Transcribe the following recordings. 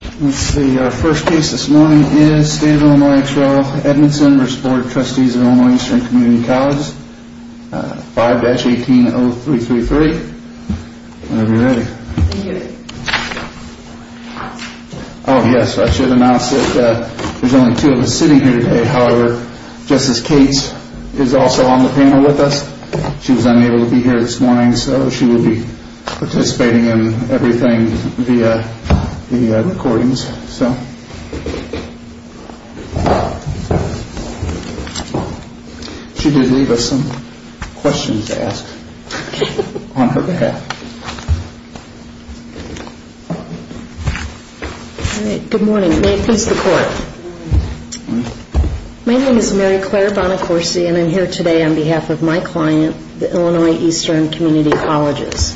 Our first case this morning is State of Illinois ex rel. Edmondson v. Board of Trustees of Illinois Eastern Community Colleges 5-180333 Whenever you're ready Oh yes, I should announce that there's only two of us sitting here today However, Justice Cates is also on the panel with us She was unable to be here this morning So she will be participating in everything via the recordings She did leave us some questions to ask on her behalf Good morning, may it please the Court My name is Mary Claire Bonacorsi and I'm here today on behalf of my client, the Illinois Eastern Community Colleges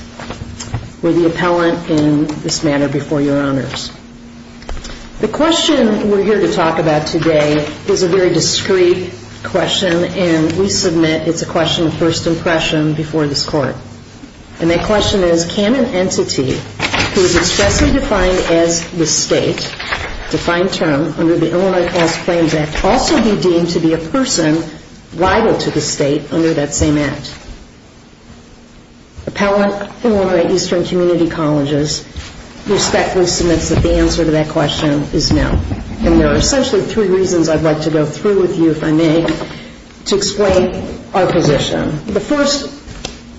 We're the appellant in this matter before your honors The question we're here to talk about today is a very discreet question And we submit it's a question of first impression before this Court And that question is, can an entity who is expressly defined as the State, defined term, under the Illinois False Claims Act Also be deemed to be a person liable to the State under that same Act? Appellant, Illinois Eastern Community Colleges, respectfully submits that the answer to that question is no And there are essentially three reasons I'd like to go through with you, if I may, to explain our position The first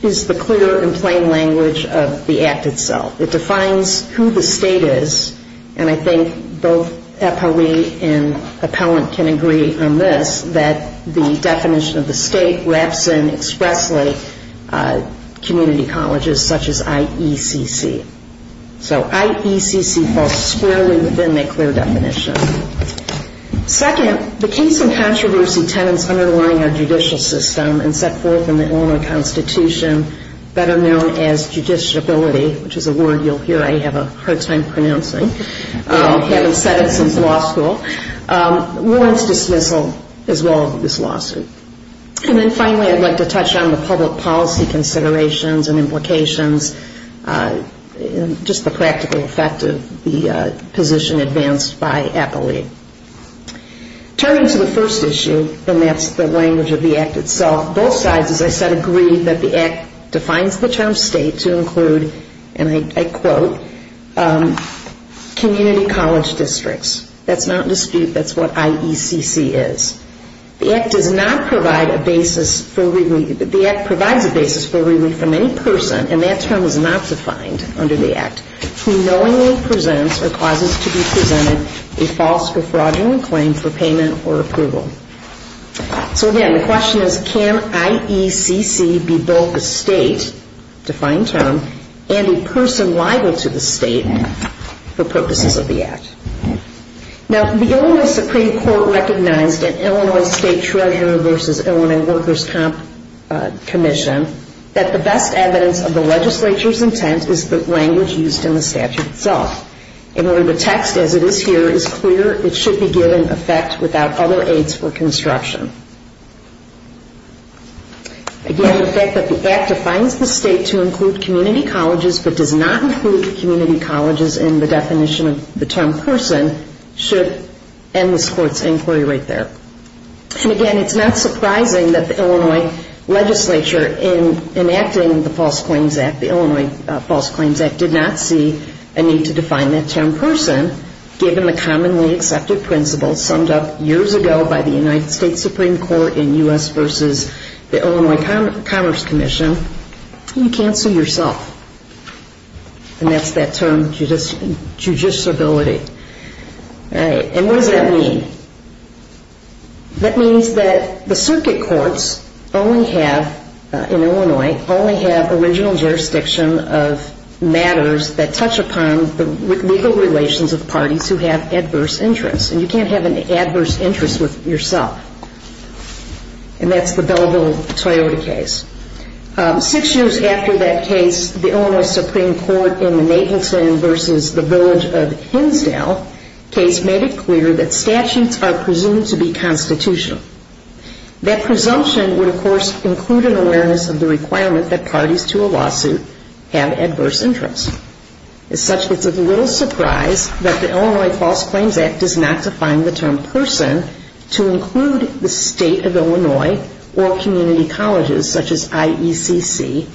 is the clear and plain language of the Act itself It defines who the State is, and I think both appellee and appellant can agree on this That the definition of the State wraps in expressly community colleges such as IECC So IECC falls squarely within the clear definition Second, the case and controversy tenants underlying our judicial system And set forth in the Illinois Constitution, better known as judiciability Which is a word you'll hear I have a hard time pronouncing, having said it since law school Warrants dismissal as well of this lawsuit And then finally I'd like to touch on the public policy considerations and implications And just the practical effect of the position advanced by appellee Turning to the first issue, and that's the language of the Act itself Both sides, as I said, agree that the Act defines the term State to include, and I quote Community college districts, that's not in dispute, that's what IECC is The Act does not provide a basis for relief, the Act provides a basis for relief from any person And that term is not defined under the Act, who knowingly presents or causes to be presented A false or fraudulent claim for payment or approval So again, the question is can IECC be both a State, defined term And a person liable to the State for purposes of the Act Now the Illinois Supreme Court recognized in Illinois State Treasurer versus Illinois Workers' Comp Commission That the best evidence of the legislature's intent is the language used in the statute itself In other words, the text as it is here is clear, it should be given effect without other aids for construction Again, the fact that the Act defines the State to include community colleges But does not include community colleges in the definition of the term person Should end this Court's inquiry right there And again, it's not surprising that the Illinois legislature in enacting the False Claims Act The Illinois False Claims Act did not see a need to define that term person Given the commonly accepted principles summed up years ago by the United States Supreme Court In U.S. versus the Illinois Commerce Commission, you can't sue yourself And that's that term, judiciability And what does that mean? That means that the circuit courts only have, in Illinois, only have original jurisdiction of matters That touch upon the legal relations of parties who have adverse interests And you can't have an adverse interest with yourself And that's the Belleville-Toyota case Six years after that case, the Illinois Supreme Court in the Nathanson versus the village of Hinsdale Case made it clear that statutes are presumed to be constitutional That presumption would of course include an awareness of the requirement that parties to a lawsuit have adverse interests As such, it's of little surprise that the Illinois False Claims Act does not define the term person To include the state of Illinois or community colleges such as IECC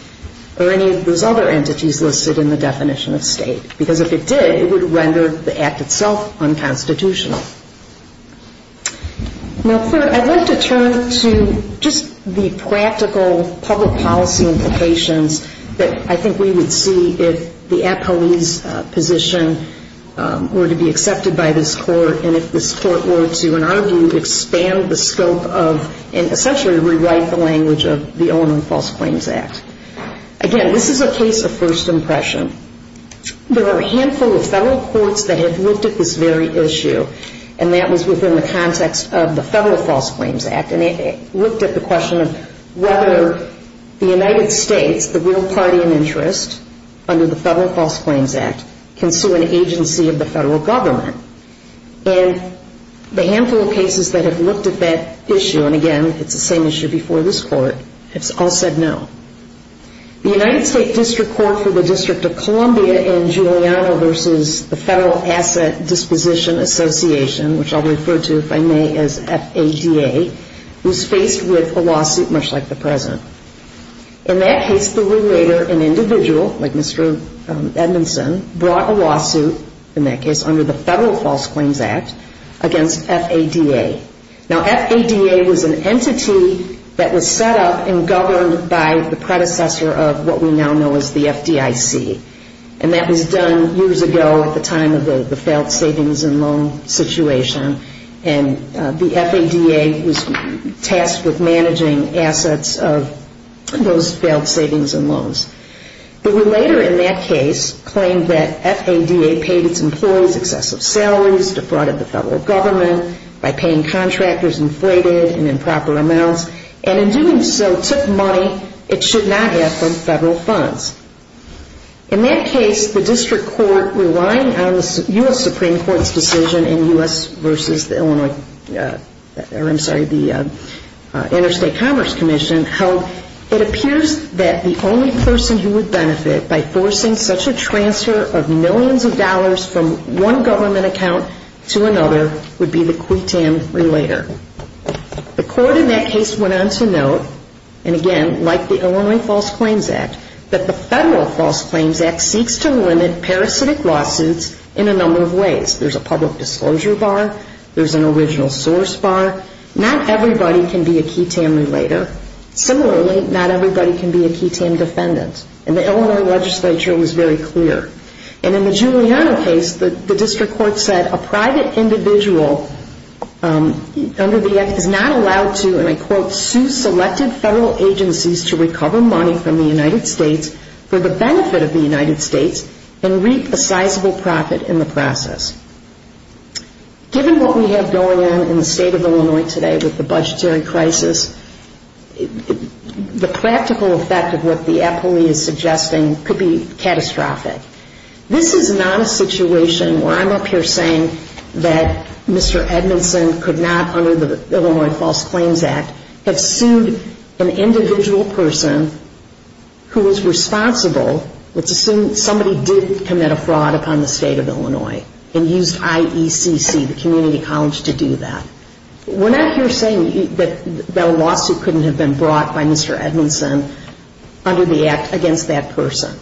Or any of those other entities listed in the definition of state Because if it did, it would render the act itself unconstitutional Now, I'd like to turn to just the practical public policy implications That I think we would see if the appellee's position were to be accepted by this court And if this court were to, in our view, expand the scope of And essentially rewrite the language of the Illinois False Claims Act Again, this is a case of first impression There are a handful of federal courts that have looked at this very issue And that was within the context of the Federal False Claims Act And it looked at the question of whether the United States, the real party in interest Under the Federal False Claims Act can sue an agency of the federal government And the handful of cases that have looked at that issue And again, it's the same issue before this court It's all said no The United States District Court for the District of Columbia in Giuliano Versus the Federal Asset Disposition Association Which I'll refer to, if I may, as FADA Was faced with a lawsuit much like the present In that case, the litigator, an individual like Mr. Edmondson Brought a lawsuit, in that case, under the Federal False Claims Act Against FADA Now, FADA was an entity that was set up and governed by the predecessor of what we now know as the FDIC And that was done years ago at the time of the failed savings and loan situation And the FADA was tasked with managing assets of those failed savings and loans The litigator in that case claimed that FADA paid its employees excessive salaries Defrauded the federal government by paying contractors inflated and improper amounts And in doing so, took money it should not have from federal funds In that case, the District Court, relying on the U.S. Supreme Court's decision In U.S. versus the Illinois, or I'm sorry, the Interstate Commerce Commission Held it appears that the only person who would benefit by forcing such a transfer of millions of dollars From one government account to another would be the quitan relator The court in that case went on to note, and again, like the Illinois False Claims Act That the Federal False Claims Act seeks to limit parasitic lawsuits in a number of ways There's a public disclosure bar, there's an original source bar Not everybody can be a quitan relator Similarly, not everybody can be a quitan defendant And the Illinois legislature was very clear And in the Giuliano case, the District Court said a private individual under the act is not allowed to And I quote, sue selected federal agencies to recover money from the United States For the benefit of the United States and reap a sizable profit in the process Given what we have going on in the state of Illinois today with the budgetary crisis The practical effect of what the appellee is suggesting could be catastrophic This is not a situation where I'm up here saying that Mr. Edmondson Could not, under the Illinois False Claims Act, have sued an individual person Who was responsible, let's assume somebody did commit a fraud upon the state of Illinois And used IECC, the community college, to do that We're not here saying that a lawsuit couldn't have been brought by Mr. Edmondson Under the act against that person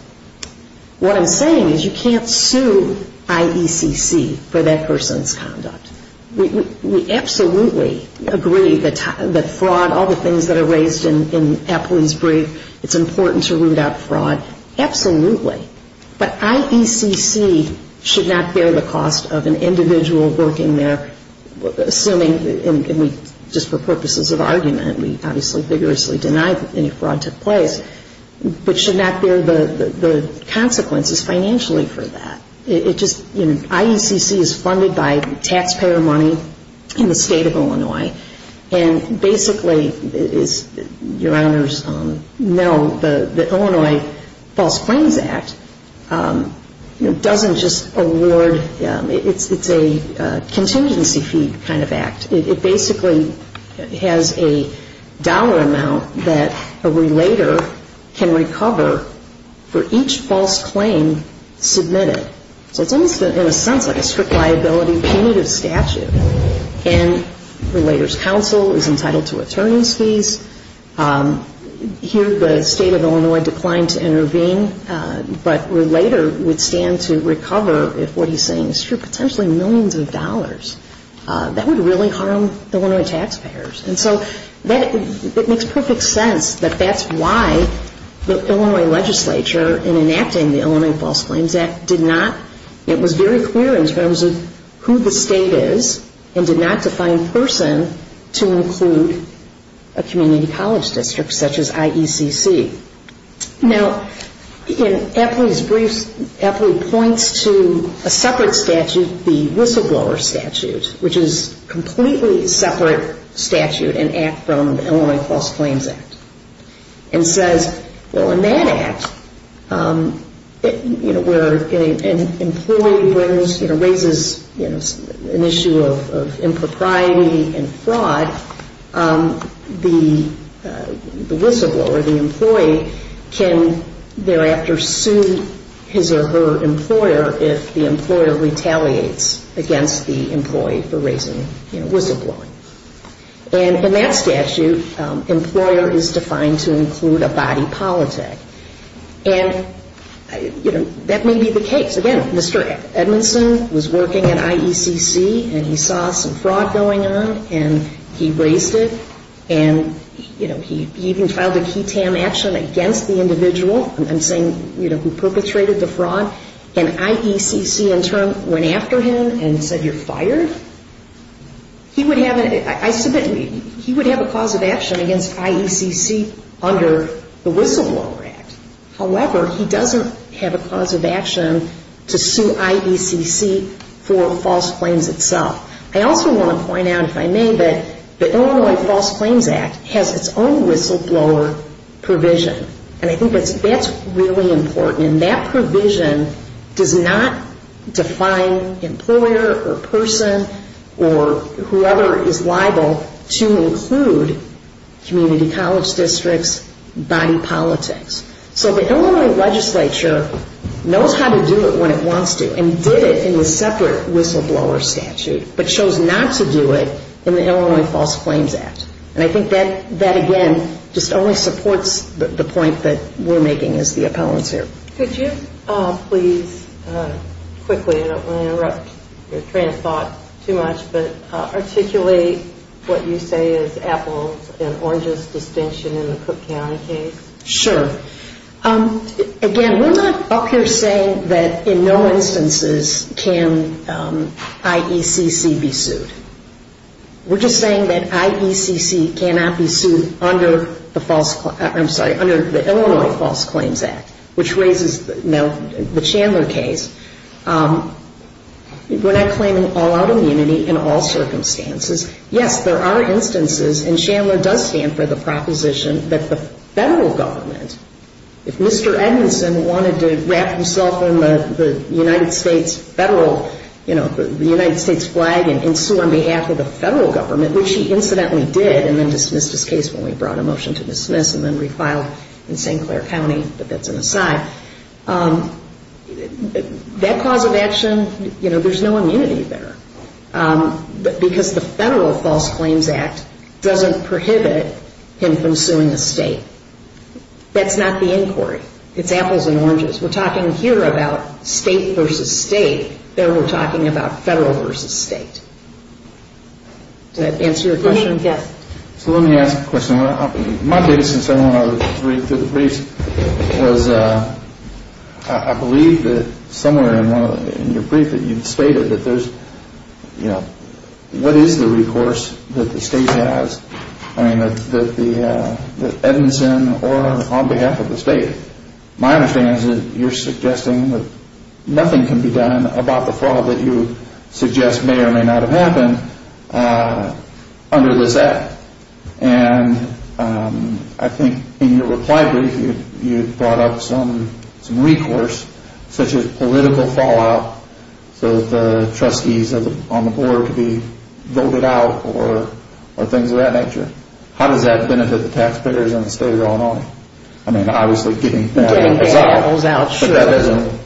What I'm saying is you can't sue IECC for that person's conduct We absolutely agree that fraud, all the things that are raised in Appley's brief It's important to root out fraud, absolutely But IECC should not bear the cost of an individual working there Assuming, and just for purposes of argument, we obviously vigorously deny that any fraud took place But should not bear the consequences financially for that IECC is funded by taxpayer money in the state of Illinois And basically, as your honors know, the Illinois False Claims Act Doesn't just award, it's a contingency fee kind of act It basically has a dollar amount that a relator can recover For each false claim submitted So it's in a sense like a strict liability punitive statute And a relator's counsel is entitled to attorney's fees Here the state of Illinois declined to intervene But a relator would stand to recover if what he's saying is true Potentially millions of dollars That would really harm Illinois taxpayers And so it makes perfect sense that that's why the Illinois legislature In enacting the Illinois False Claims Act did not It was very clear in terms of who the state is And did not define person to include a community college district such as IECC Now, in Appley's brief, Appley points to a separate statute, the Whistleblower Statute Which is a completely separate statute and act from the Illinois False Claims Act And says, well in that act, where an employee raises an issue of impropriety and fraud The whistleblower, the employee, can thereafter sue his or her employer If the employer retaliates against the employee for raising, you know, whistleblowing And in that statute, employer is defined to include a body politic And, you know, that may be the case Again, Mr. Edmondson was working at IECC And he saw some fraud going on and he raised it And, you know, he even filed a key tam action against the individual I'm saying, you know, who perpetrated the fraud And IECC in turn went after him and said, you're fired He would have a cause of action against IECC under the Whistleblower Act However, he doesn't have a cause of action to sue IECC for false claims itself I also want to point out, if I may, that the Illinois False Claims Act has its own whistleblower provision And I think that's really important And that provision does not define employer or person or whoever is liable To include community college districts, body politics So the Illinois legislature knows how to do it when it wants to And did it in the separate whistleblower statute But chose not to do it in the Illinois False Claims Act And I think that, again, just only supports the point that we're making as the appellants here Could you please, quickly, I don't want to interrupt your train of thought too much But articulate what you say is Apple's and Orange's distinction in the Cook County case Sure Again, we're not up here saying that in no instances can IECC be sued We're just saying that IECC cannot be sued under the Illinois False Claims Act Which raises the Chandler case We're not claiming all out immunity in all circumstances Yes, there are instances, and Chandler does stand for the proposition That the federal government, if Mr. Edmondson wanted to wrap himself in the United States flag And sue on behalf of the federal government, which he incidentally did And then dismissed his case when we brought a motion to dismiss And then refiled in St. Clair County, but that's an aside That cause of action, there's no immunity there Because the federal False Claims Act doesn't prohibit him from suing a state That's not the inquiry, it's Apple's and Orange's We're talking here about state versus state There we're talking about federal versus state Did that answer your question? Yes So let me ask a question My biggest concern when I was reading through the briefs Was I believe that somewhere in your brief that you stated That there's, you know, what is the recourse that the state has I mean that Edmondson or on behalf of the state My understanding is that you're suggesting that nothing can be done About the fraud that you suggest may or may not have happened Under this act And I think in your reply brief you brought up some recourse Such as political fallout so that the trustees on the board Could be voted out or things of that nature How does that benefit the taxpayers in the state of Illinois? I mean obviously getting bad acts out But that doesn't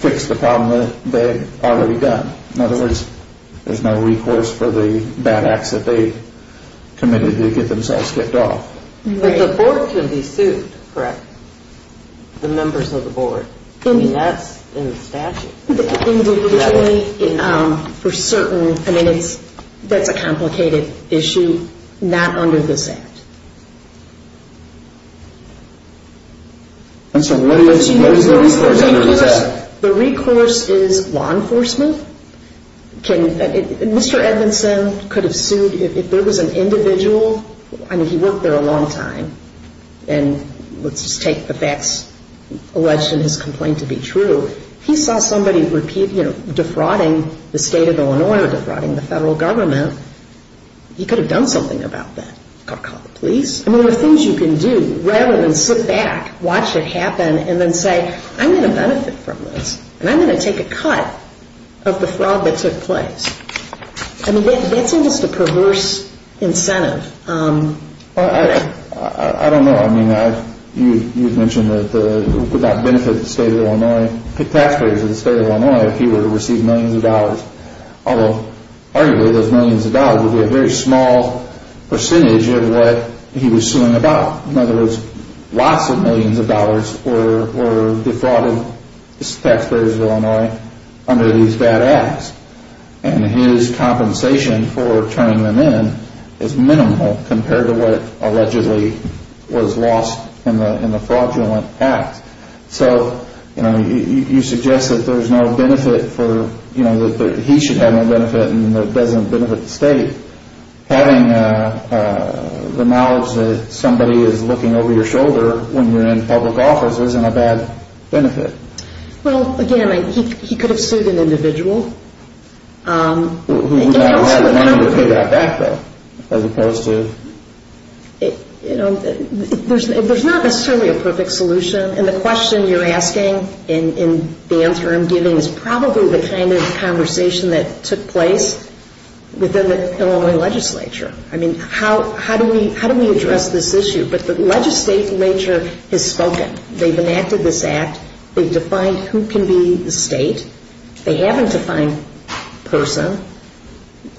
fix the problem that they've already done In other words, there's no recourse for the bad acts that they committed To get themselves kicked off But the board should be sued, correct? The members of the board And that's in the statute Individually, for certain, I mean that's a complicated issue It should be not under this act I'm sorry, what is the recourse? The recourse is law enforcement Mr. Edmondson could have sued if there was an individual I mean he worked there a long time And let's just take the facts alleged in his complaint to be true He saw somebody defrauding the state of Illinois Or defrauding the federal government He could have done something about that He could have called the police I mean there are things you can do rather than sit back Watch it happen and then say I'm going to benefit from this And I'm going to take a cut of the fraud that took place I mean that's just a perverse incentive I don't know, I mean you've mentioned that It would not benefit the state of Illinois The taxpayers of the state of Illinois If you were to receive millions of dollars Although arguably those millions of dollars Would be a very small percentage of what he was suing about In other words, lots of millions of dollars Were defrauded, the taxpayers of Illinois Under these bad acts And his compensation for turning them in Is minimal compared to what allegedly was lost In the fraudulent act So you suggest that there's no benefit That he should have no benefit And that it doesn't benefit the state Having the knowledge that somebody is looking over your shoulder When you're in public office isn't a bad benefit Well again, he could have sued an individual Who would not have had the money to pay that back though As opposed to There's not necessarily a perfect solution And the question you're asking In the interim giving Is probably the kind of conversation that took place Within the Illinois legislature I mean, how do we address this issue? But the legislature has spoken They've enacted this act They've defined who can be the state They haven't defined person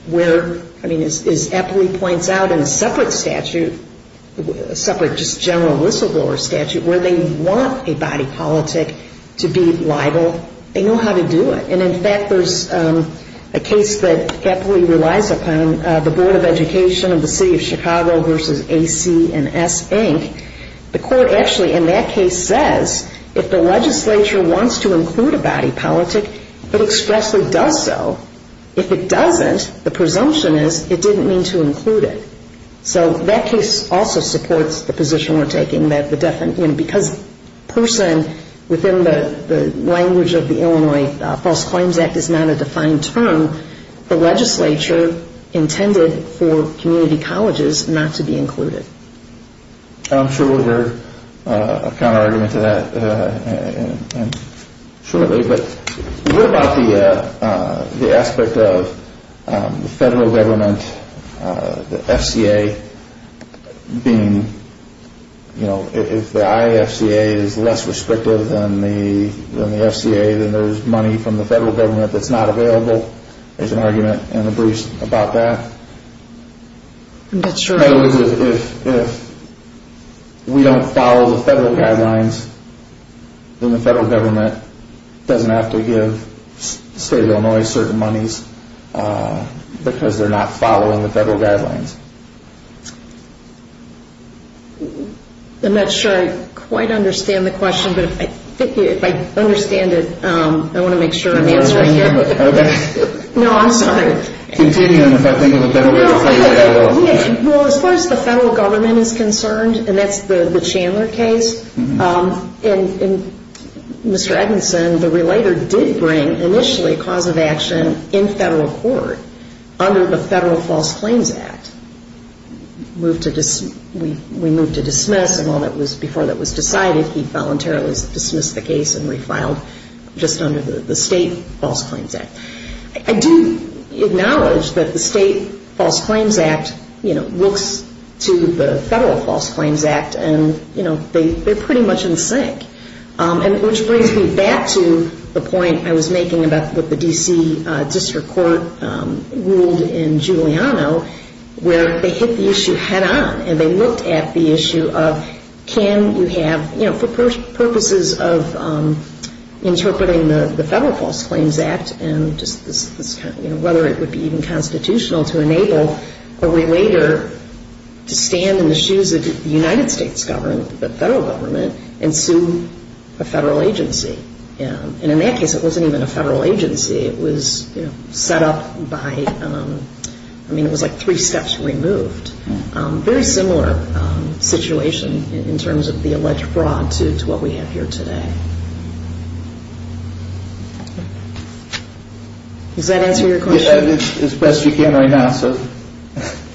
Where, I mean as Eppley points out In a separate statute A separate just general whistleblower statute Where they want a body politic to be liable They know how to do it And in fact there's a case that Eppley relies upon The Board of Education of the City of Chicago Versus A.C. and S. Inc. The court actually in that case says If the legislature wants to include a body politic It expressly does so If it doesn't, the presumption is It didn't mean to include it So that case also supports the position we're taking Because person within the language of the Illinois False Claims Act Is not a defined term The legislature intended for community colleges Not to be included I'm sure we'll hear a counter argument to that shortly But what about the aspect of the federal government The FCA being If the IFCA is less restrictive than the FCA Then there's money from the federal government That's not available There's an argument in the briefs about that If we don't follow the federal guidelines Then the federal government Doesn't have to give the state of Illinois certain monies Because they're not following the federal guidelines I'm not sure I quite understand the question But if I understand it I want to make sure I'm answering it No, I'm sorry Continue if I think of a better way to put it As far as the federal government is concerned And that's the Chandler case And Mr. Eggenson, the relator did bring Initially a cause of action in federal court Under the Federal False Claims Act We moved to dismiss And while that was before that was decided He voluntarily dismissed the case And refiled just under the State False Claims Act I do acknowledge that the State False Claims Act Looks to the Federal False Claims Act And they're pretty much in sync Which brings me back to the point I was making About what the D.C. District Court ruled in Giuliano Where they hit the issue head on And they looked at the issue of Can you have, you know, for purposes of Interpreting the Federal False Claims Act And whether it would be even constitutional to enable A relator to stand in the shoes of the United States government The federal government and sue a federal agency And in that case it wasn't even a federal agency It was set up by, I mean it was like three steps removed Very similar situation in terms of the alleged fraud To what we have here today Does that answer your question? It's best you can right now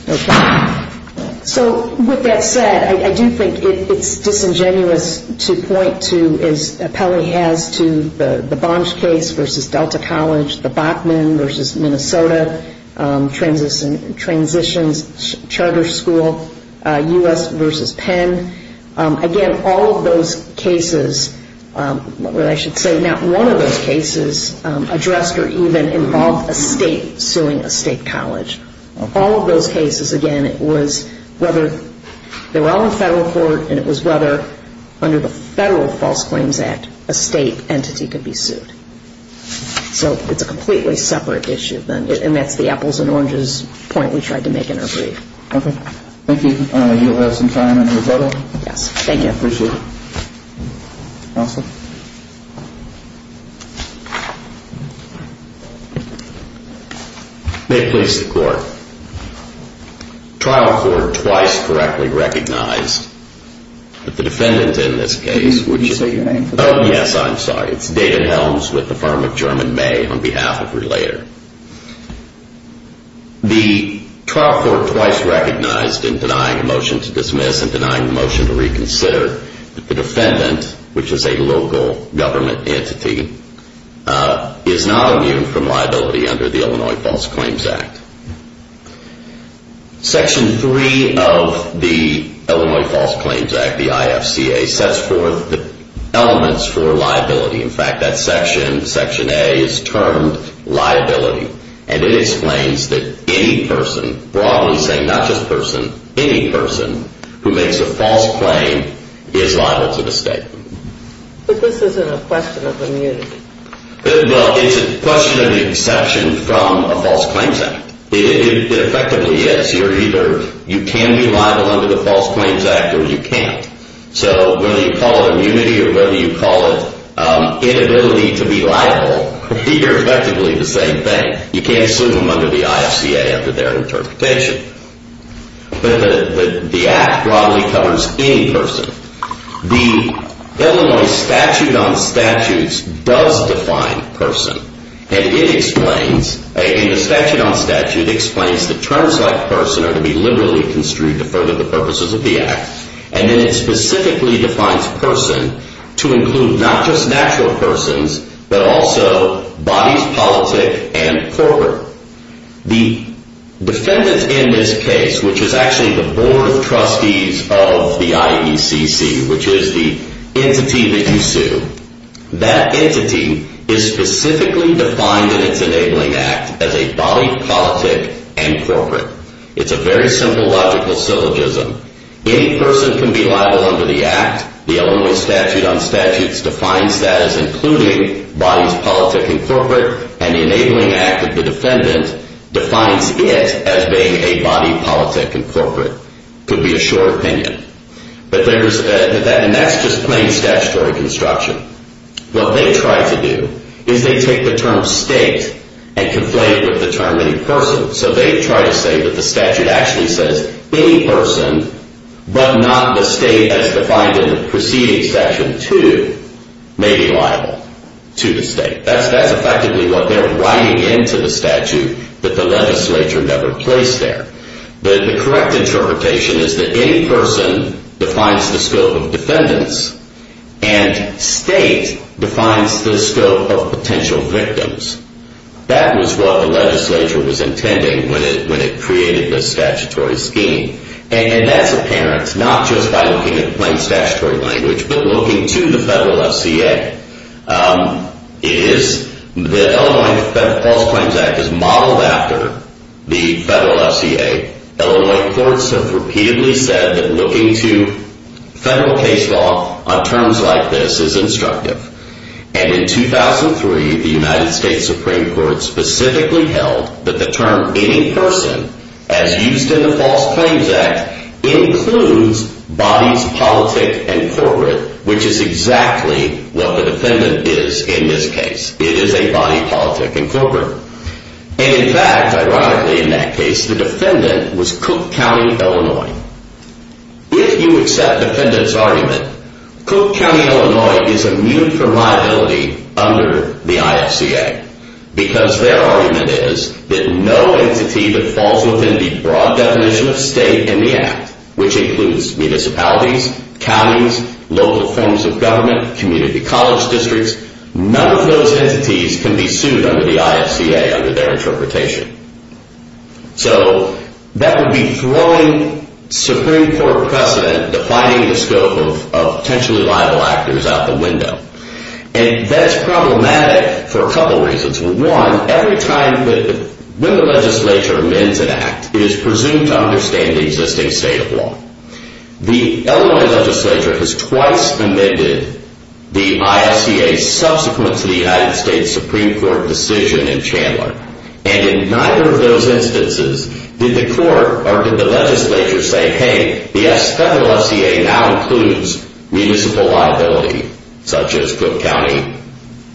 Okay, so with that said I do think it's disingenuous to point to As Pelley has to the Bonge case versus Delta College The Bachmann versus Minnesota transitions charter school U.S. versus Penn Again, all of those cases Or I should say not one of those cases Addressed or even involved a state suing a state college All of those cases, again, it was whether They were all in federal court And it was whether under the Federal False Claims Act A state entity could be sued So it's a completely separate issue And that's the apples and oranges point we tried to make in our brief Okay, thank you You'll have some time in a little Yes, thank you Appreciate it Counsel? May it please the court Trial court twice correctly recognized That the defendant in this case Can you say your name for the record? Oh yes, I'm sorry It's David Helms with the firm of German May On behalf of Relator The trial court twice recognized In denying a motion to dismiss And denying a motion to reconsider That the defendant, which is a local government entity Is not immune from liability Under the Illinois False Claims Act Section three of the Illinois False Claims Act The IFCA sets forth the elements for liability In fact, that section, section A Is termed liability And it explains that any person Broadly saying not just person Any person Who makes a false claim Is liable to the state But this isn't a question of immunity Well, it's a question of the exception From a false claims act It effectively is You're either You can be liable under the False Claims Act Or you can't So whether you call it immunity Or whether you call it Inability to be liable You're effectively the same thing You can't sue them under the IFCA Under their interpretation But the act broadly covers any person The Illinois Statute on Statutes Does define person And it explains In the Statute on Statutes It explains the terms like person Are to be liberally construed To further the purposes of the act And then it specifically defines person To include not just natural persons But also bodies, politic, and corporate The defendants in this case Which is actually the board of trustees Of the IECC Which is the entity that you sue That entity is specifically defined In its enabling act As a body, politic, and corporate It's a very simple logical syllogism Any person can be liable under the act Defines that as including Bodies, politic, and corporate And the enabling act of the defendant Defines it as being A body, politic, and corporate Could be a short opinion And that's just plain statutory construction What they try to do Is they take the term state And conflate it with the term any person So they try to say that the statute Actually says any person But not the state as defined In the preceding section 2 May be liable to the state That's effectively what they're writing Into the statute That the legislature never placed there But the correct interpretation Is that any person Defines the scope of defendants And state defines the scope Of potential victims That was what the legislature Was intending when it created This statutory scheme And that's apparent Not just by looking at plain statutory language But looking to the federal FCA It is The Illinois False Claims Act Is modeled after The federal FCA Illinois courts have repeatedly said That looking to federal case law On terms like this Is instructive And in 2003 the United States Supreme Court Specifically held That the term any person As used in the False Claims Act Includes Bodies, politic, and corporate Which is exactly What the defendant is in this case It is a body, politic, and corporate And in fact Ironically in that case The defendant was Cook County, Illinois If you accept defendants argument Cook County, Illinois Is immune from liability Under the IFCA Because their argument is That no entity that falls within The broad definition of state In the act Which includes municipalities Counties, local forms of government Community college districts None of those entities Can be sued under the IFCA Under their interpretation So that would be Throwing Supreme Court precedent Defining the scope of Potentially liable actors out the window And that's problematic For a couple reasons One, every time When the legislature amends an act It is presumed to understand The existing state of law The Illinois legislature has twice Amended the IFCA Subsequent to the United States Supreme Court decision in Chandler And in neither of those instances Did the court Or did the legislature say Hey, the federal IFCA now includes Municipal liability Such as Cook County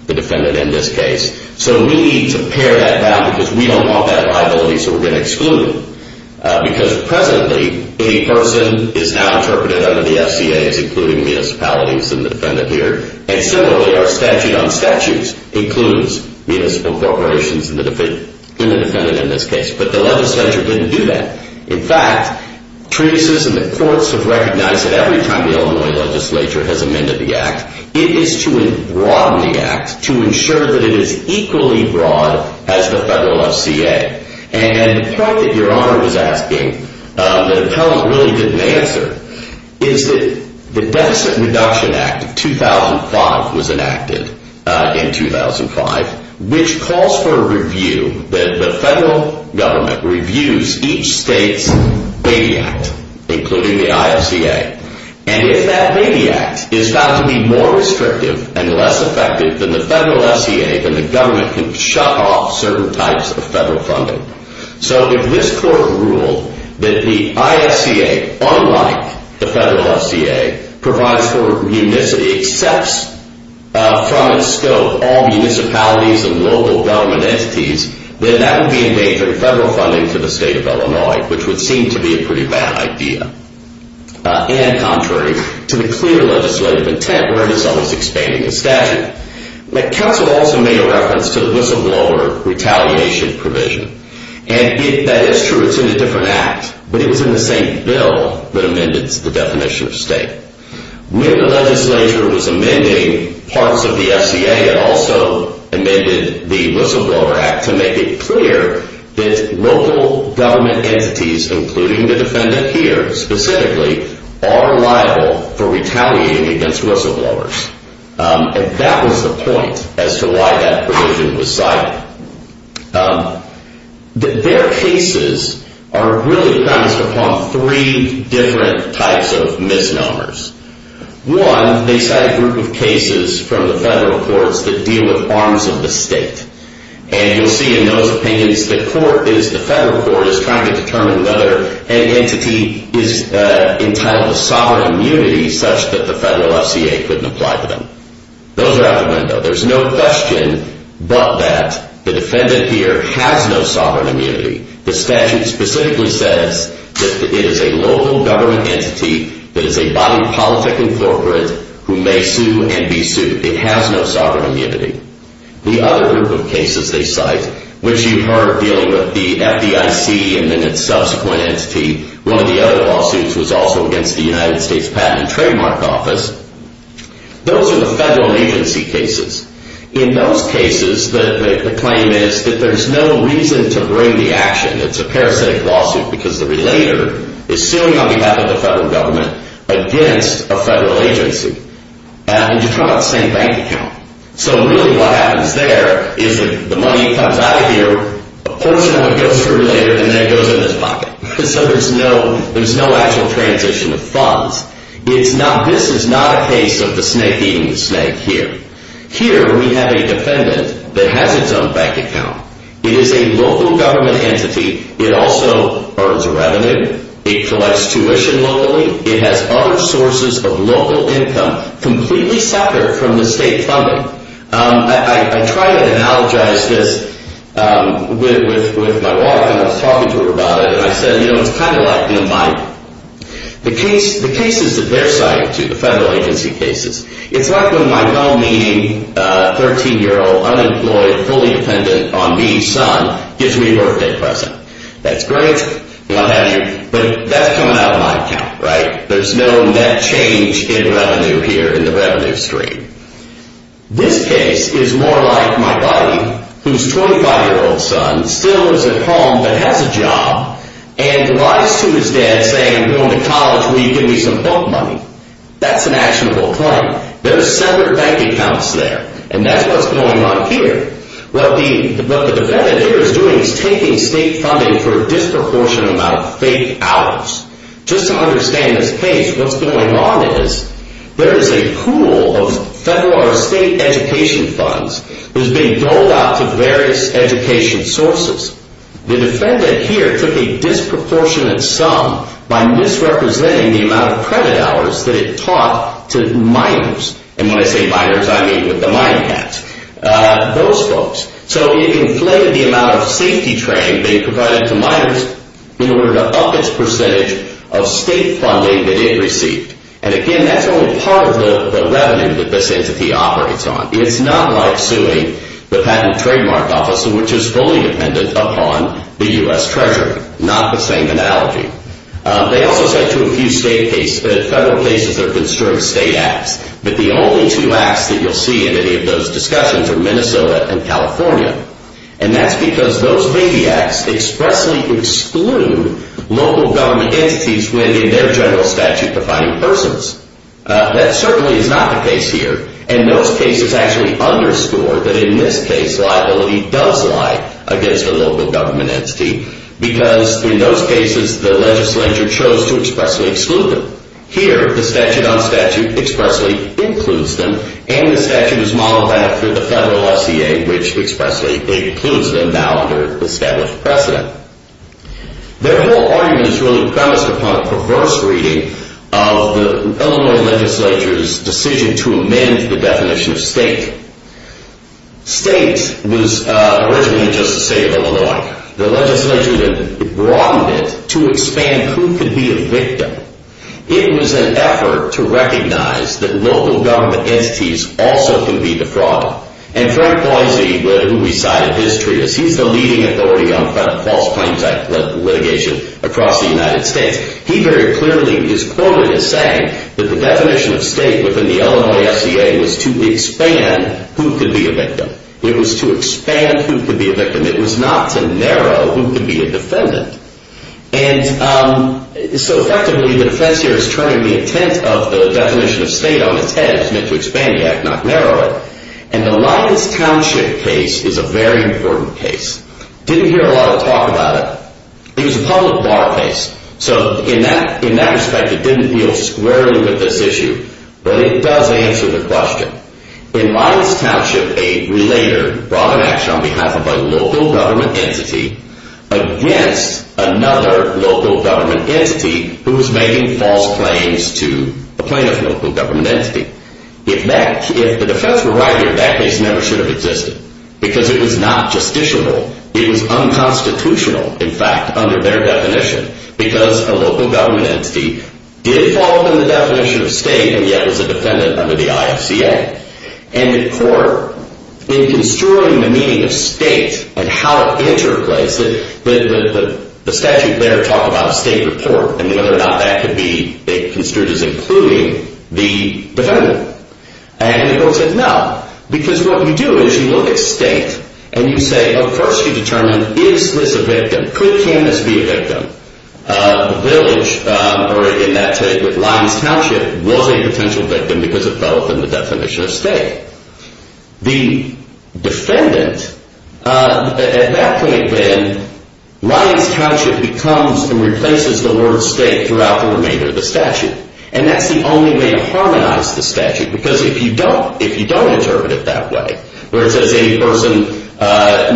The defendant in this case So we need to pare that down Because we don't want that liability So we're going to exclude Because presently any person Is now interpreted under the FCA As including municipalities And the defendant here And similarly our statute on statutes Includes municipal corporations And the defendant in this case But the legislature didn't do that In fact, treatises in the courts Have recognized that every time The Illinois legislature has amended the act It is to broaden the act To ensure that it is equally broad As the federal IFCA And the point that your honor was asking That appellant really didn't answer Is that The Deficit Reduction Act 2005 was enacted In 2005 Which calls for a review That the federal government Reviews each state's BABY Act Including the IFCA And if that BABY Act is found to be more restrictive And less effective than the federal FCA Then the government can shut off Certain types of federal funding So if this court ruled That the IFCA Unlike the federal FCA Provides for Accepts From its scope all municipalities And local government entities Then that would be endangering federal funding To the state of Illinois Which would seem to be a pretty bad idea And contrary to the clear Legislative intent Where it is always expanding the statute But counsel also made a reference To the whistleblower retaliation provision And that is true It's in a different act But it was in the same bill That amended the definition of state When the legislature was amending Parts of the FCA It also amended the whistleblower act To make it clear That local government entities Including the defendant here Specifically are liable For retaliating against whistleblowers And that was the point As to why that provision Was cited Their cases Are really based upon Three different types Of misnomers One, they cite a group of cases From the federal courts that deal with Arms of the state And you'll see in those opinions The federal court is trying to determine Whether an entity is Entitled to sovereign immunity Such that the federal FCA Couldn't apply to them Those are out the window There's no question But that the defendant here Has no sovereign immunity The statute specifically says That it is a local government entity That is a body politic incorporate Who may sue and be sued It has no sovereign immunity The other group of cases they cite Which you've heard Dealing with the FDIC And then its subsequent entity One of the other lawsuits Was also against the United States Patent and Trademark Office Those are the federal agency cases In those cases The claim is that there's no reason To bring the action It's a parasitic lawsuit Because the relator is suing On behalf of the federal government Against a federal agency And you're talking about the same bank account So really what happens there Is that the money comes out of here A portion of it goes to the relator And then it goes in his pocket So there's no actual transition Of funds This is not a case of the snake eating the snake Here Here we have a defendant That has its own bank account It is a local government entity It also earns revenue It collects tuition locally It has other sources of local income Completely separate from the state funding I try to analogize this With my wife And I was talking to her about it And I said It's kind of like The cases that they're citing The federal agency cases It's like when my well-meaning 13-year-old unemployed Fully dependent on me son Gives me a birthday present That's great But that's coming out of my account There's no net change In revenue here In the revenue stream This case is more like my buddy Whose 25-year-old son Still lives at home But has a job And lies to his dad saying I'm going to college Will you give me some book money That's an actionable claim There's separate bank accounts there And that's what's going on here What the defendant here is doing Is taking state funding For a disproportionate amount of fake hours Just to understand this case What's going on is There is a pool of federal Or state education funds That is being doled out to various Education sources The defendant here took a disproportionate sum By misrepresenting The amount of credit hours That it taught to minors And when I say minors I mean with the minecats Those folks So it inflated the amount of safety training That it provided to minors In order to up its percentage Of state funding that it received And again that's only part of the Revenue that this entity operates on It's not like suing The Patent Trademark Office Which is fully dependent upon the U.S. Treasury Not the same analogy They also said to a few state cases That federal cases are considered state acts But the only two acts That you'll see in any of those discussions Are Minnesota and California And that's because those baby acts Expressly exclude Local government entities When in their general statute defining persons That certainly is not the case here And those cases actually Underscore that in this case Liability does lie against A local government entity Because in those cases the legislature Chose to expressly exclude them Here the statute on statute Expressly includes them And the statute is modeled after the federal FCA which expressly Includes them now under established precedent Their whole argument Is really premised upon A perverse reading of the Illinois legislature's decision To amend the definition of state State Was originally just a state of Illinois The legislature Broadened it to expand Who could be a victim It was an effort To recognize that local government Entities also can be the fraud And Frank Boise Who recited his treatise He's the leading authority on false claims Litigation across the United States He very clearly is quoted As saying that the definition of state Within the Illinois FCA was to Expand who could be a victim It was to expand who could be a victim It was not to narrow Who could be a defendant And so effectively The defense here is turning The intent of the definition of state On its head is meant to expand the act not narrow it And the Lyons Township Case is a very important case Didn't hear a lot of talk about it It was a public law case So in that respect It didn't deal squarely with this issue But it does answer the question In Lyons Township A relator brought an action On behalf of a local government entity Against another Local government entity Who was making false claims To a plaintiff local government entity If the defense were right That case never should have existed Because it was not justiciable It was unconstitutional In fact under their definition Because a local government entity Did fall within the definition of state And yet was a defendant under the IFCA And in court In construing the meaning of state And how it interplays The statute there Talked about a state report And whether or not that could be Considered as including the defendant And the court said no Because what you do is you look at state And you say First you determine is this a victim Could this be a victim The village in that case With Lyons Township Was a potential victim Because it fell within the definition of state The Defendant At that point then Lyons Township becomes And replaces the word state Throughout the remainder of the statute And that's the only way to harmonize the statute Because if you don't If you don't interpret it that way Where it says any person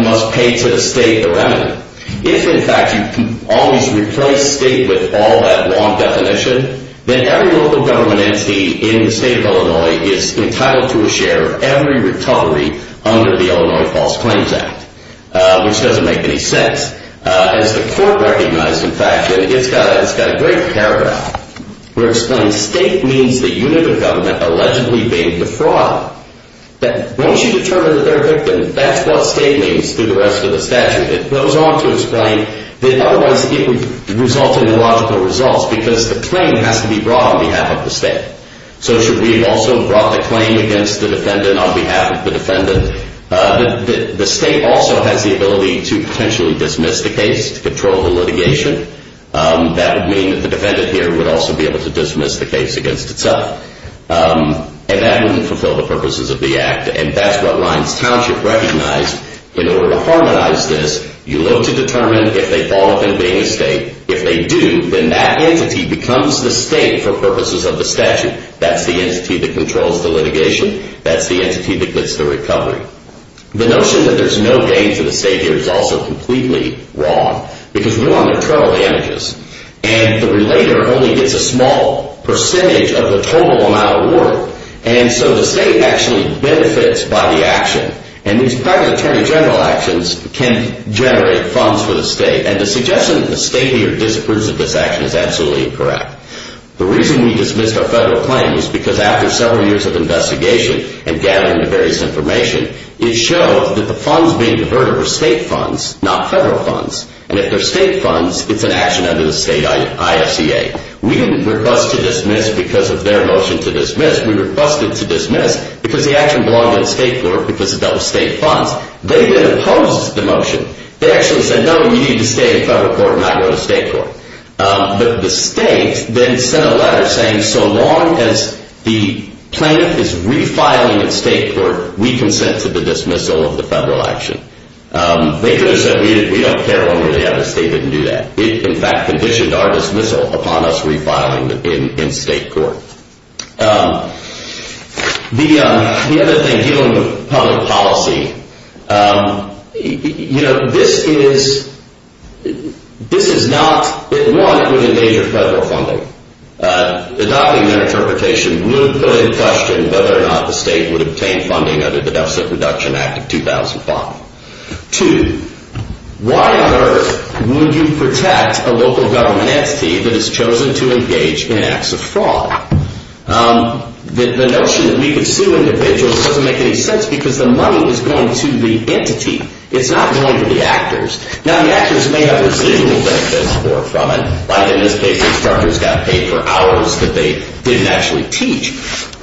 must pay to the state The remnant If in fact you always replace state With all that long definition Then every local government entity In the state of Illinois Is entitled to a share of every recovery Under the Illinois False Claims Act Which doesn't make any sense As the court recognized In fact it's got a great paragraph Where it explains State means the unit of government Allegedly being the fraud That once you determine that they're a victim That's what state means through the rest of the statute It goes on to explain That otherwise it would result in Illogical results because the claim Has to be brought on behalf of the state So should we also have brought the claim Against the defendant on behalf of the defendant The state also Has the ability to potentially Dismiss the case to control the litigation That would mean that the defendant Here would also be able to dismiss the case Against itself And that wouldn't fulfill the purposes of the act And that's what Lyons Township recognized In order to harmonize this You look to determine if they Fall within being a state If they do then that entity Becomes the state for purposes of the statute That's the entity that controls the litigation That's the entity that gets the recovery The notion that there's no gain To the state here is also Completely wrong Because we're on the trail of images And the relator only gets a small Percentage of the total amount of work And so the state actually Benefits by the action And these private attorney general actions Can generate funds for the state And the suggestion that the state here Disapproves of this action is absolutely incorrect The reason we dismissed our federal claim Is because after several years of investigation And gathering the various information It showed that the funds being Diverted were state funds, not federal funds And if they're state funds It's an action under the state IFCA We didn't request to dismiss Because of their motion to dismiss We requested to dismiss because the action Belonged to the state court because it dealt with state funds They then opposed the motion They actually said no, we need to stay In federal court and not go to state court But the state then sent a letter Saying so long as The plaintiff is refiling In state court, we consent To the dismissal of the federal action They could have said we don't care When we have a statement and do that It in fact conditioned our dismissal Upon us refiling in state court The other thing Dealing with public policy You know This is This is not One, it would endanger federal funding The document interpretation Would question whether or not The state would obtain funding Under the Deficit Reduction Act of 2005 Two, why on earth Would you protect A local government entity That has chosen to engage in acts of fraud The notion That we could sue individuals Doesn't make any sense Because the money is going to the entity It's not going to the actors Now the actors may have residual benefits Or from it, like in this case The instructors got paid for hours That they didn't actually teach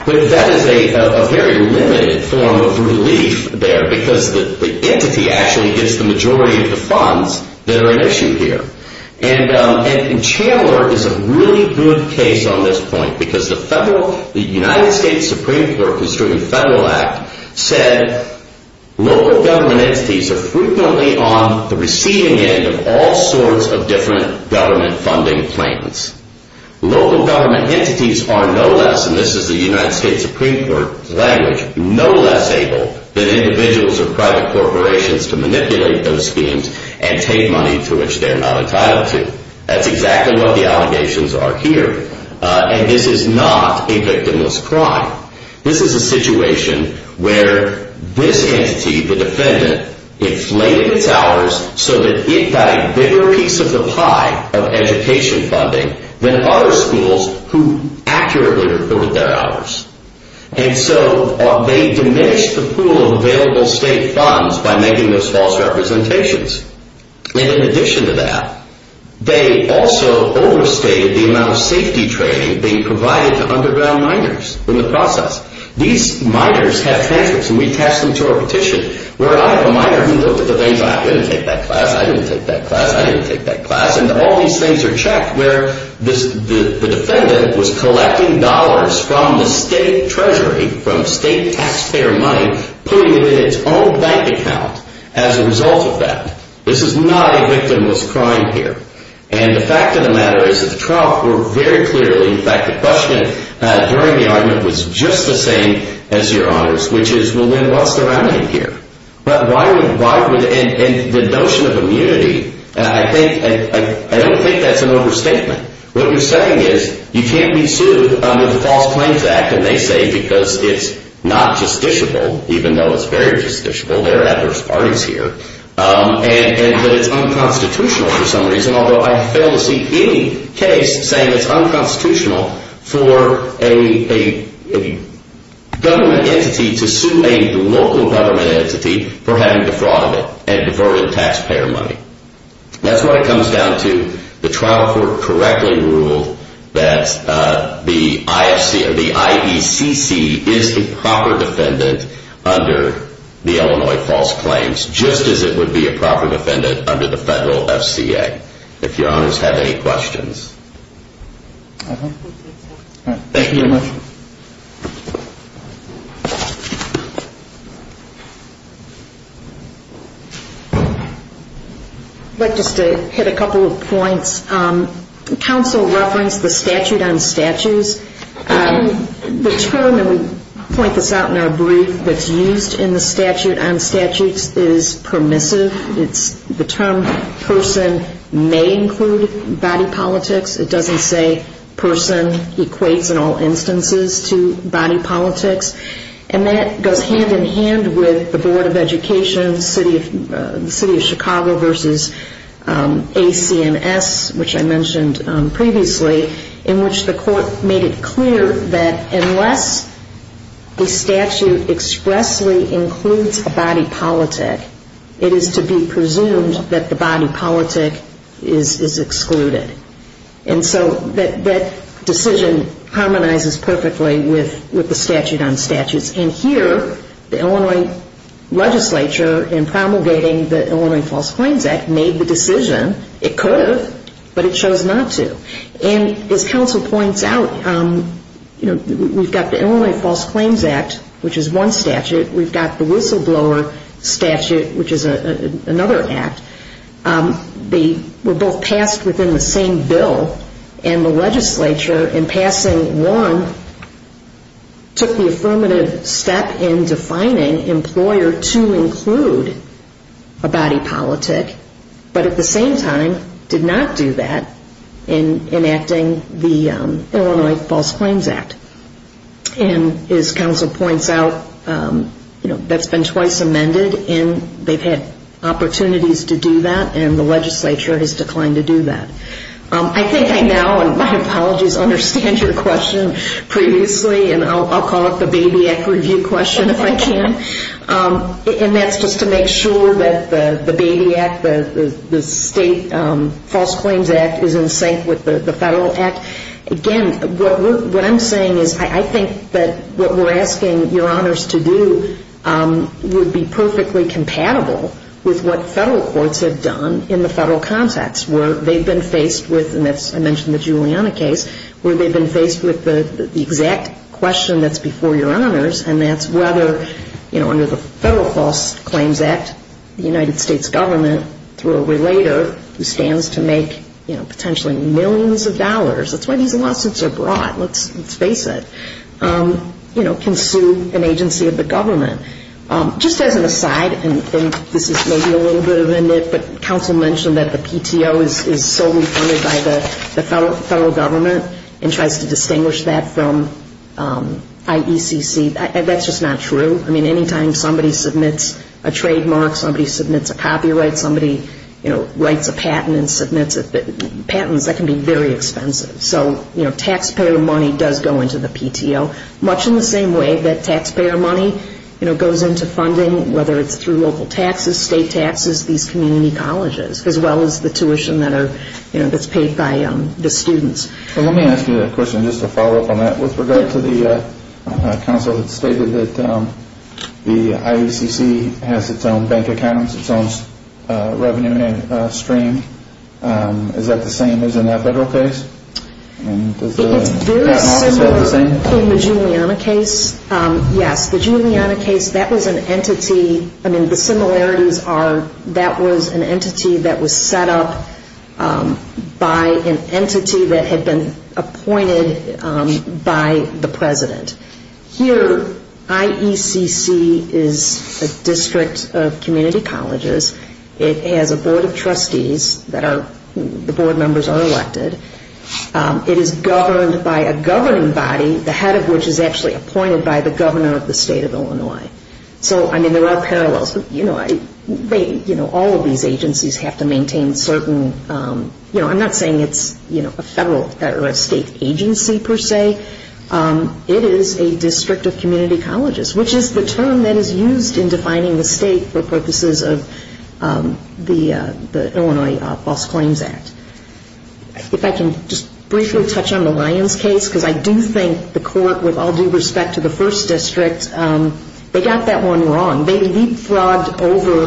But that is a very limited Form of relief there Because the entity actually gets The majority of the funds That are at issue here And Chandler is a really good case On this point Because the federal The United States Supreme Court Construing Federal Act said Local government entities Are frequently on the receiving end Of all sorts of different Government funding plans Local government entities Are no less And this is the United States Supreme Court language No less able than individuals Or private corporations To manipulate those schemes And take money to which they're not entitled to That's exactly what the allegations are here And this is not A victimless crime This is a situation where This entity, the defendant Inflated its hours So that it got a bigger piece of the pie Of education funding Than other schools Who accurately recorded their hours And so They diminished the pool of available State funds by making those false Representations And in addition to that They also Overstated the amount of safety training Being provided to underground miners In the process These miners have tantrums And we attach them to our petition Where I have a miner who looked at the things I didn't take that class, I didn't take that class And all these things are checked Where the defendant was collecting Dollars from the state treasury From state taxpayer money Putting it in its own bank account As a result of that This is not a victimless crime here And the fact of the matter is That the trial proved very clearly In fact the question during the argument Was just the same as your honors Which is well then what's the remedy here But why would And the notion of immunity I think, I don't think That's an overstatement What you're saying is you can't be sued Under the False Claims Act And they say because it's not justiciable Even though it's very justiciable There are adverse parties here And that it's unconstitutional For some reason Although I fail to see any case Saying it's unconstitutional For a government entity To sue a local government entity For having defrauded it And defrauded taxpayer money That's what it comes down to The trial court correctly ruled That the IFC Or the IECC Is the proper defendant Under the Illinois False Claims Just as it would be a proper defendant Under the Federal FCA If your honors have any questions Thank you very much I'd like just to hit a couple of points Council referenced The statute on statues The term And we point this out in our brief That's used in the statute On statutes is permissive It's the term Person may include body politics It doesn't say Person equates in all instances To body politics And that goes hand in hand With the Board of Education The City of Chicago Versus AC&S Which I mentioned previously In which the court made it clear That unless The statute expressly Includes a body politic It is to be presumed That the body politic Is excluded And so that decision Harmonizes perfectly With the statute on statutes And here the Illinois Legislature in promulgating The Illinois False Claims Act Made the decision It could have But it chose not to And as Council points out We've got the Illinois False Claims Act Which is one statute We've got the whistleblower statute Which is another act They were both passed Within the same bill And the legislature In passing one Took the affirmative step In defining employer To include a body politic But at the same time Did not do that In enacting the Illinois False Claims Act And as Council points out That's been twice amended And they've had Opportunities to do that And the legislature has declined to do that I think I now And my apologies Understand your question previously And I'll call it the baby act review question If I can And that's just to make sure That the baby act The state false claims act Is in sync with the federal act Again What I'm saying is I think that what we're asking Your honors to do Would be perfectly compatible With what federal courts have done In the federal context Where they've been faced with And I mentioned the Juliana case Where they've been faced with The exact question That's before your honors And that's whether Under the federal false claims act The United States government Through a relator Who stands to make potentially millions of dollars That's why these lawsuits are broad Let's face it Can sue an agency of the government Just as an aside And this is maybe a little bit of a nit But Council mentioned That the PTO is solely funded By the federal government And tries to distinguish that from IECC That's just not true Anytime somebody submits a trademark Somebody submits a copyright Somebody writes a patent And submits it Patents can be very expensive So taxpayer money does go into the PTO Much in the same way that taxpayer money Goes into funding Whether it's through local taxes State taxes As well as these community colleges As well as the tuition That's paid by the students Let me ask you a question Just to follow up on that With regard to the Council that stated that The IECC has its own bank account Its own revenue stream Is that the same as in that federal case? It's very similar In the Juliana case Yes The Juliana case That was an entity The similarities are That was an entity that was set up By an entity That had been appointed By the president Here IECC is A district of community colleges It has a board of trustees That are The board members are elected It is governed by a governing body The head of which is actually appointed By the governor of the state of Illinois There are parallels All of these agencies Have to maintain certain I'm not saying it's A federal or state agency Per se It is a district of community colleges Which is the term that is used In defining the state for purposes of The Illinois False Claims Act If I can just briefly Touch on the Lyons case Because I do think the court With all due respect to the first district They got that one wrong They leapfrogged over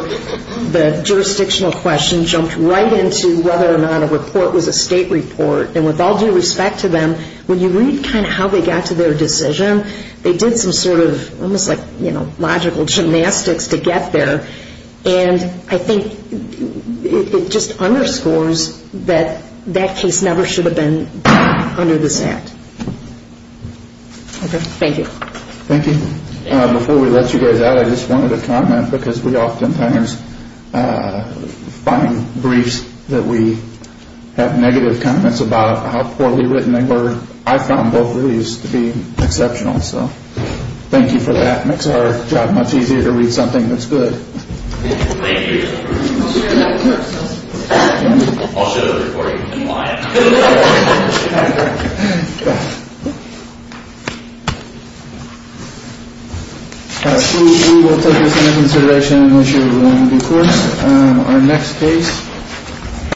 The jurisdictional question Jumped right into whether or not A report was a state report And with all due respect to them When you read how they got to their decision They did some sort of Logical gymnastics to get there And I think It just underscores That that case Never should have been Under this act Thank you Before we let you guys out I just wanted to comment Because we often find Briefs that we Have negative comments about How poorly written they were I found both of these to be exceptional Thank you for that Makes our job much easier to read something that's good Thank you Thank you I'll show the recording In Lyon We will take this into consideration When we do courts Our next case